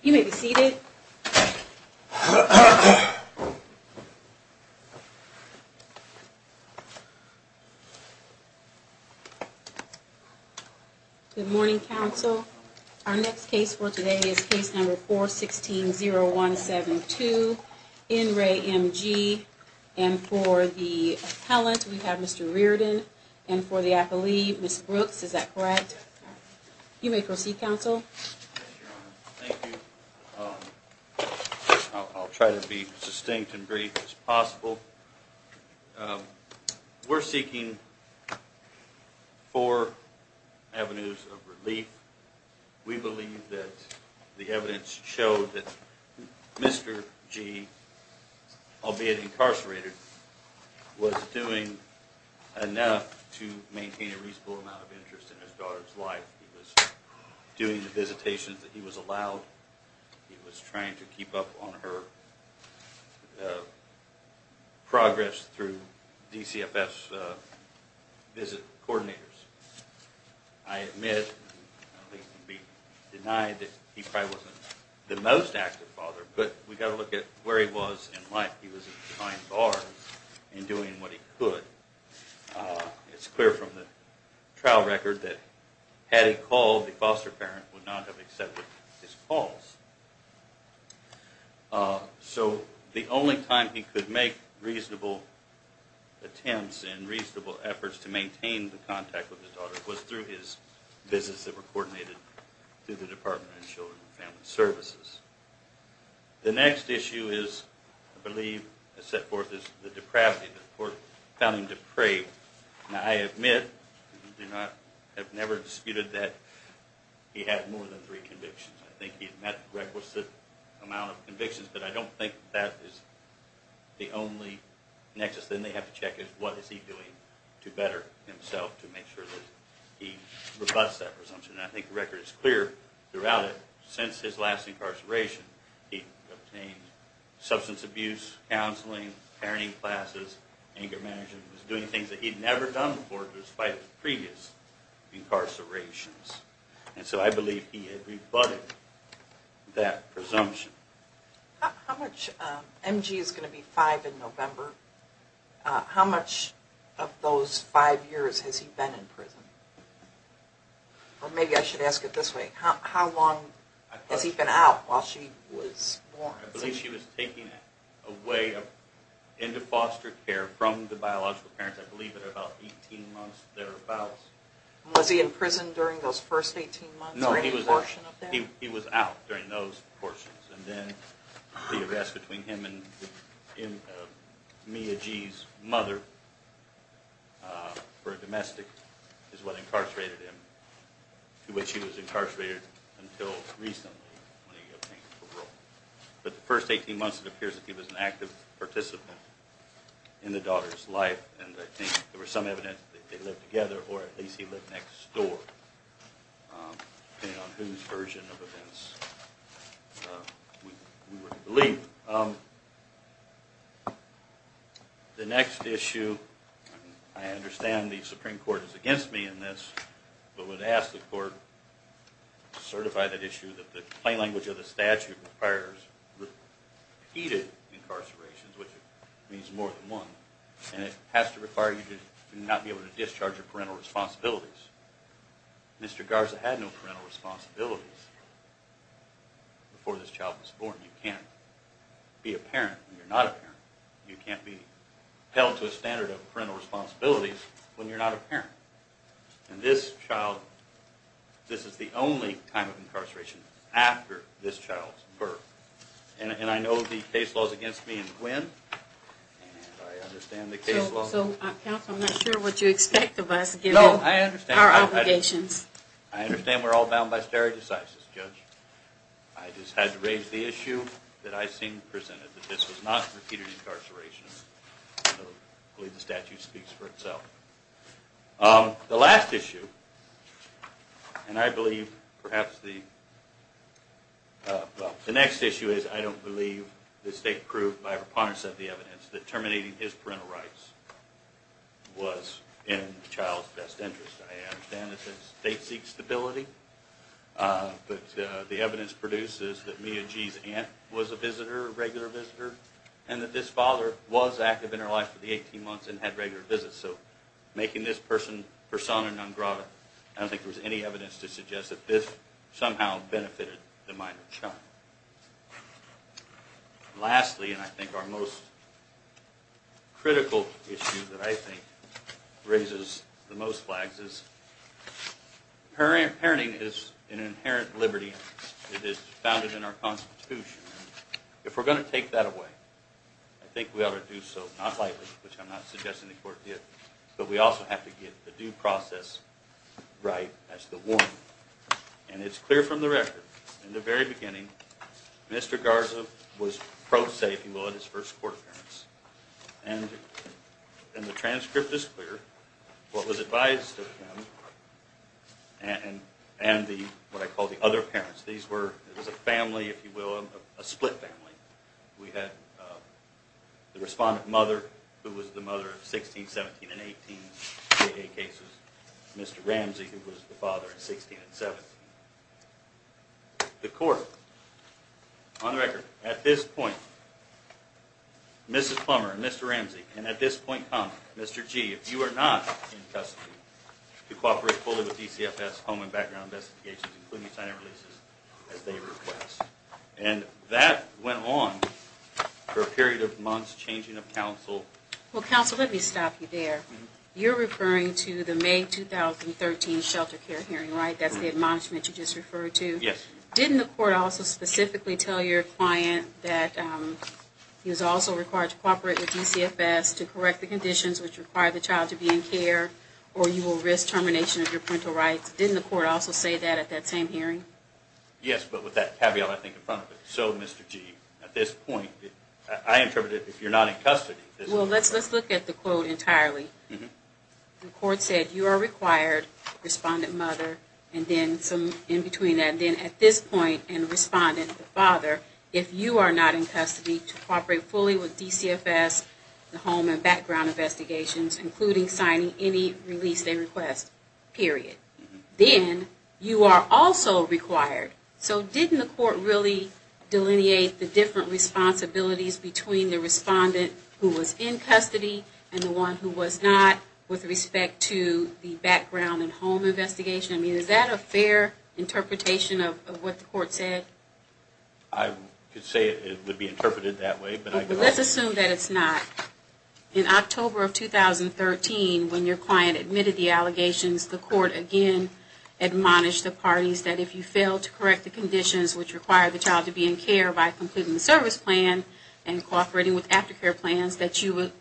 You may be seated. Good morning, Council. Our next case for today is case number 4 16 0 1 7 2 N. Ray M.G. And for the talent, we have Mr Reardon and for the athlete, Miss Brooks. Is that correct? You may proceed, Council. I'll try to be distinct and brief as possible. We're seeking four avenues of relief. We believe that the evidence showed that Mr G, albeit in his daughter's life, he was doing the visitation that he was allowed. He was trying to keep up on her progress through DCFS visit coordinators. I admit denied that he probably wasn't the most active father, but we've got to look at where he was in life. He was a fine bar in doing what he could. Uh, it's clear from the trial record that had he called, the foster parent would not have accepted his calls. Uh, so the only time he could make reasonable attempts and reasonable efforts to maintain the contact with his daughter was through his visits that were coordinated through the Department of Children and Family Services. The next issue is, I believe, set forth is the depravity that the court found him depraved. Now, I admit, I have never disputed that he had more than three convictions. I think he's met the requisite amount of convictions, but I don't think that is the only nexus. Then they have to check it. What is he doing to better himself to make sure that he robust that presumption? I think the record is clear throughout it. Since his last incarceration, he obtained substance abuse counseling, parenting classes, anger management, was doing things that he'd never done before despite previous incarcerations. And so I believe he had rebutted that presumption. How much M. G. Is going to be five in November? How much of those five years has he been in prison? Or maybe I should ask it this way. How long has he been out while she was born? I believe she was taking away into foster care from the biological parents. I believe it about 18 months thereabouts. Was he in prison during those first 18 months? No, he was out during those portions. And then the for domestic is what incarcerated him to which he was incarcerated until recently. But the first 18 months, it appears that he was an active participant in the daughter's life. And I think there was some evidence they lived together, or at least he lived next door. And whose version of events believe the next issue. I understand the Supreme Court is against me in this, but would ask the court certify that issue that the plain language of the statute requires heated incarcerations, which means more than one. And it has to require you to not be able to discharge your parental responsibilities. Mr. Garza had no parental responsibilities before this child was born. You can't be a parent when you're not a parent. You can't be held to a standard of parental responsibilities when you're not a parent. And this child, this is the only time of incarceration after this child's birth. And I know the case laws against me and Gwen, and I understand the case law. So I'm not sure what you expect of us given our obligations. I understand we're all bound by stare decisis, Judge. I just had to raise the issue that I seen presented, that this was not repeated incarceration. I believe the statute speaks for itself. The last issue, and I believe perhaps the the next issue is I don't believe the state proved by reponse of the evidence that terminating his parental rights was in the child's best interest. I understand the state seeks stability, but the evidence produces that Mia Gee's aunt was a visitor, a regular visitor, and that this father was active in her life for the 18 months and had regular visits. So making this person persona non grata, I don't think there's any evidence to suggest that this somehow benefited the minor child. Lastly, and I think our most critical issue that I think raises the most flags is parent. Parenting is an inherent liberty. It is founded in our Constitution. If we're gonna take that away, I think we ought to do so, not lightly, which I'm not suggesting the court did, but we also have to get the due process right as the one. And it's clear from the record in the very beginning. Mr Garza was pro se, if you will, in his first court appearance. And and the transcript is clear. What was advised and and the what I call the other parents. These were a family, if you will, a split family. We had the respondent mother, who was the mother of 16, 17 and 18 cases. Mr Ramsey, who was the father of 16 and 17. The court on record at this point, Mrs Plummer, Mr Ramsey and at this point, Mr G, if you are not in custody to cooperate fully with DCFS home and background investigations, including signing releases as they request. And that went on for a period of months, changing of counsel. Well, counsel, let me stop you there. You're referring to the May 2013 shelter care hearing, right? That's the admonishment you just referred to. Yes. Didn't the court also specifically tell your client that he was also required to cooperate with DCFS to correct the conditions which require the child to be in care or you will risk termination of your parental rights? Didn't the court also say that at that same hearing? Yes, but with that caveat, I think in front of it. So, Mr G, at this point, I interpreted if you're not in custody. Well, let's let's look at the quote entirely. The court said you are required, respondent mother, and then some in between that. And then at this point and respondent father, if you are not in custody to cooperate fully with DCFS home and background investigations, including signing any release they request, period. Then you are also required. So didn't the court really delineate the different responsibilities between the respondent who was in custody and the one who was not with respect to the background and home investigation? I mean, is that a fair interpretation of what the court said? I could say it would be interpreted that way. But let's assume that it's not. In October of 2013, when your client admitted the allegations, the court again admonished the parties that if you fail to correct the conditions which require the child to be in care by completing the service plan and cooperating with aftercare plans, that you would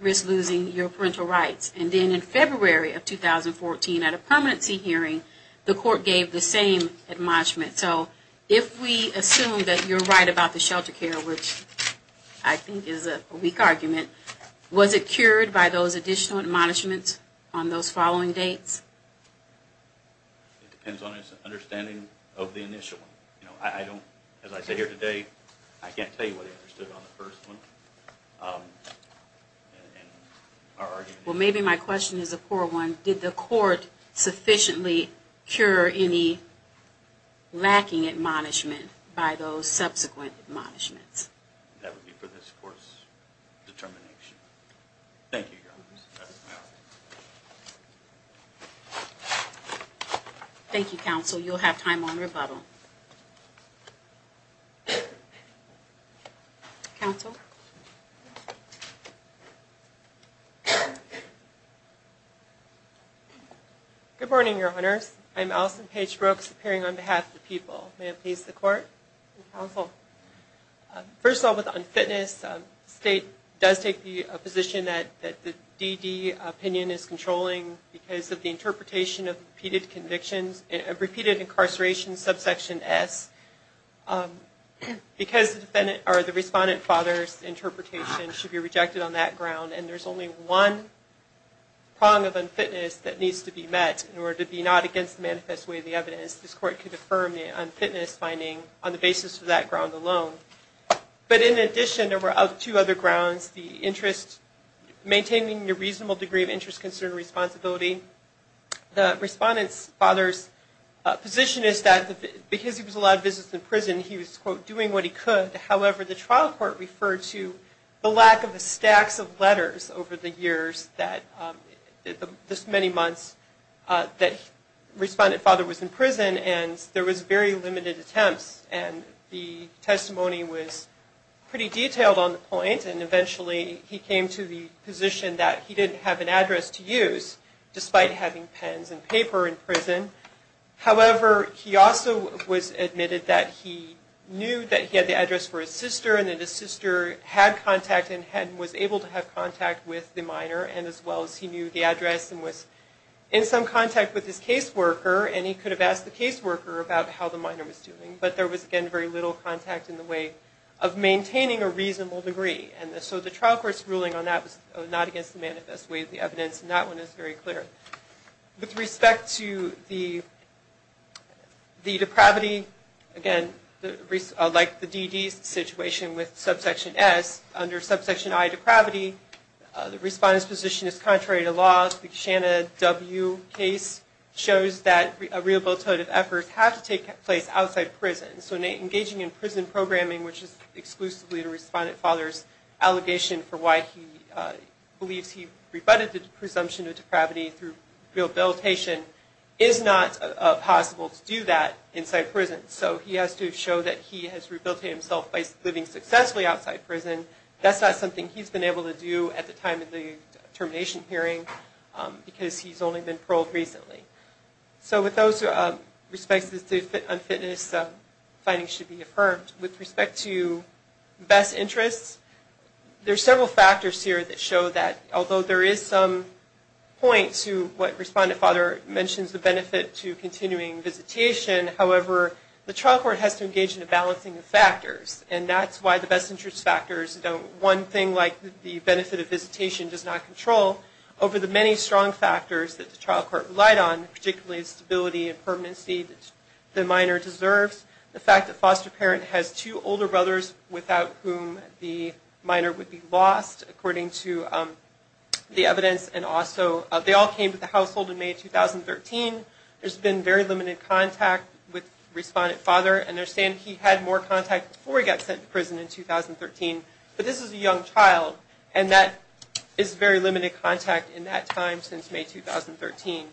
risk losing your parental rights. And then in February of 2014, at a permanency hearing, the court gave the same admonishment. So if we assume that you're right about the shelter care, which I think is a weak argument, was it cured by those additional admonishments on those following dates? It depends on his understanding of the initial. I don't, as I say here today, I can't tell you what I understood on the first one. Well, maybe my question is a poor one. Did the court sufficiently cure any lacking admonishment by those subsequent admonishments? That would be for this court's determination. Thank you. Thank you, counsel. You'll have time on rebuttal. Counsel? Good morning, Your Honors. I'm Allison Paige Brooks appearing on behalf of the people. May I please the court? Counsel? First of all, with unfitness, the state does take the position that the DD opinion is controlling because of the interpretation of repeated convictions, repeated incarceration subsection S. Because the defendant, or the respondent father's interpretation should be rejected on that ground, and there's only one prong of unfitness that needs to be met in order to be not against the manifest way of the evidence, this court could affirm the unfitness finding on the basis of that ground alone. But in addition, there were two other grounds, the interest, maintaining a reasonable degree of interest, concern, and responsibility. The respondent's father's position is that because he was allowed visits in prison, he was, quote, doing what he could. However, the trial court referred to the lack of the stacks of letters over the years that, this many months that respondent father was in prison, and there was very limited attempts. And the testimony was pretty detailed on the point, and eventually he came to the position that he didn't have an interest despite having pens and paper in prison. However, he also was admitted that he knew that he had the address for his sister, and that his sister had contact and was able to have contact with the minor, and as well as he knew the address and was in some contact with his caseworker, and he could have asked the caseworker about how the minor was doing. But there was, again, very little contact in the way of maintaining a reasonable degree. And so the trial court's ruling on that was not against the manifest way of the evidence, and that one is very clear. With respect to the depravity, again, like the DD's situation with Subsection S, under Subsection I, depravity, the respondent's position is contrary to law. The Shanna W. case shows that rehabilitative efforts have to take place outside prison. So engaging in prison programming, which is he rebutted the presumption of depravity through rehabilitation, is not possible to do that inside prison. So he has to show that he has rehabilitated himself by living successfully outside prison. That's not something he's been able to do at the time of the termination hearing because he's only been paroled recently. So with those respects, unfitness findings should be affirmed. With respect to best interests, there are several factors here that show that although there is some point to what Respondent Fodder mentions, the benefit to continuing visitation, however, the trial court has to engage in a balancing of factors. And that's why the best interest factors don't one thing like the benefit of visitation does not control over the many strong factors that the trial court relied on, particularly stability and permanency that the minor deserves. The fact that foster parent has two the evidence and also they all came to the household in May 2013. There's been very limited contact with Respondent Fodder and they're saying he had more contact before he got sent to prison in 2013. But this is a young child and that is very limited contact in that time since May 2013.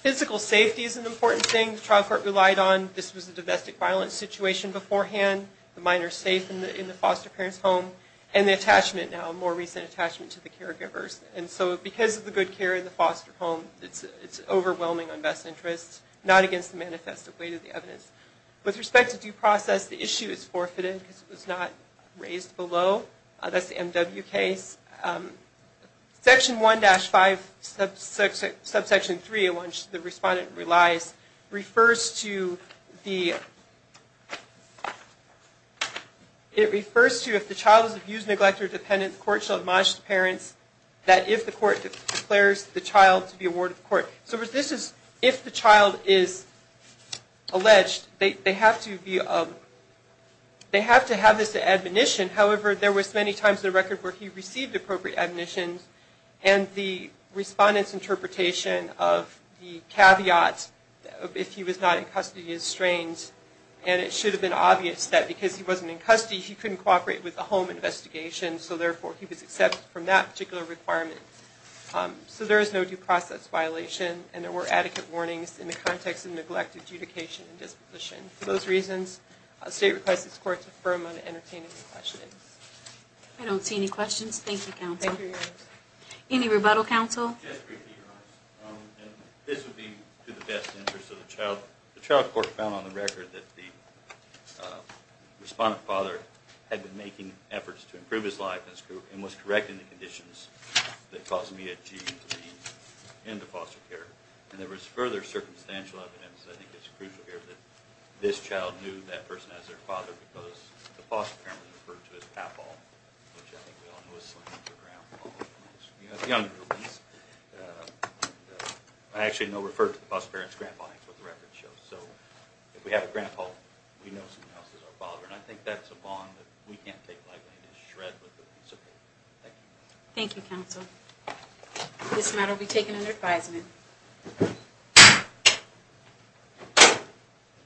Physical safety is an important thing the trial court relied on. This was a domestic violence situation beforehand. The minor is safe in the foster parent's home and the attachment now, more recent attachment to the caregivers. And so because of the good care in the foster home, it's overwhelming on best interests, not against the manifest of weight of the evidence. With respect to due process, the issue is forfeited because it was not raised below. That's the MW case. Section 1-5 subsection 3 in which the Respondent relies refers to the, it refers to if the child is abused, neglected or dependent, the court shall admonish the parents that if the court declares the child to be awarded to the court. So this is if the child is alleged, they have to be, they have to have this admonition. However, there was many times the record where he received appropriate admonitions and the Respondent's the caveat, if he was not in custody, he was strained. And it should have been obvious that because he wasn't in custody, he couldn't cooperate with the home investigation. So therefore he was accepted from that particular requirement. So there is no due process violation and there were adequate warnings in the context of neglect, adjudication and disposition. For those reasons, the state requests this court to affirm on entertaining the questioning. I don't see any questions. Thank you, counsel. Any rebuttal counsel? This would be to the best interest of the child. The child court found on the record that the Respondent father had been making efforts to improve his life and was correct in the conditions that caused me to be in the foster care. And there was further circumstantial evidence. I think it's crucial here that this child knew that person as their father because the I actually know referred to the bus parents. Grandpa. That's what the record shows. So if we have a grandpa, we know something else is our father. And I think that's a bond that we can't take lightly to shred. Thank you. Thank you, counsel. This matter will be taken under advisement.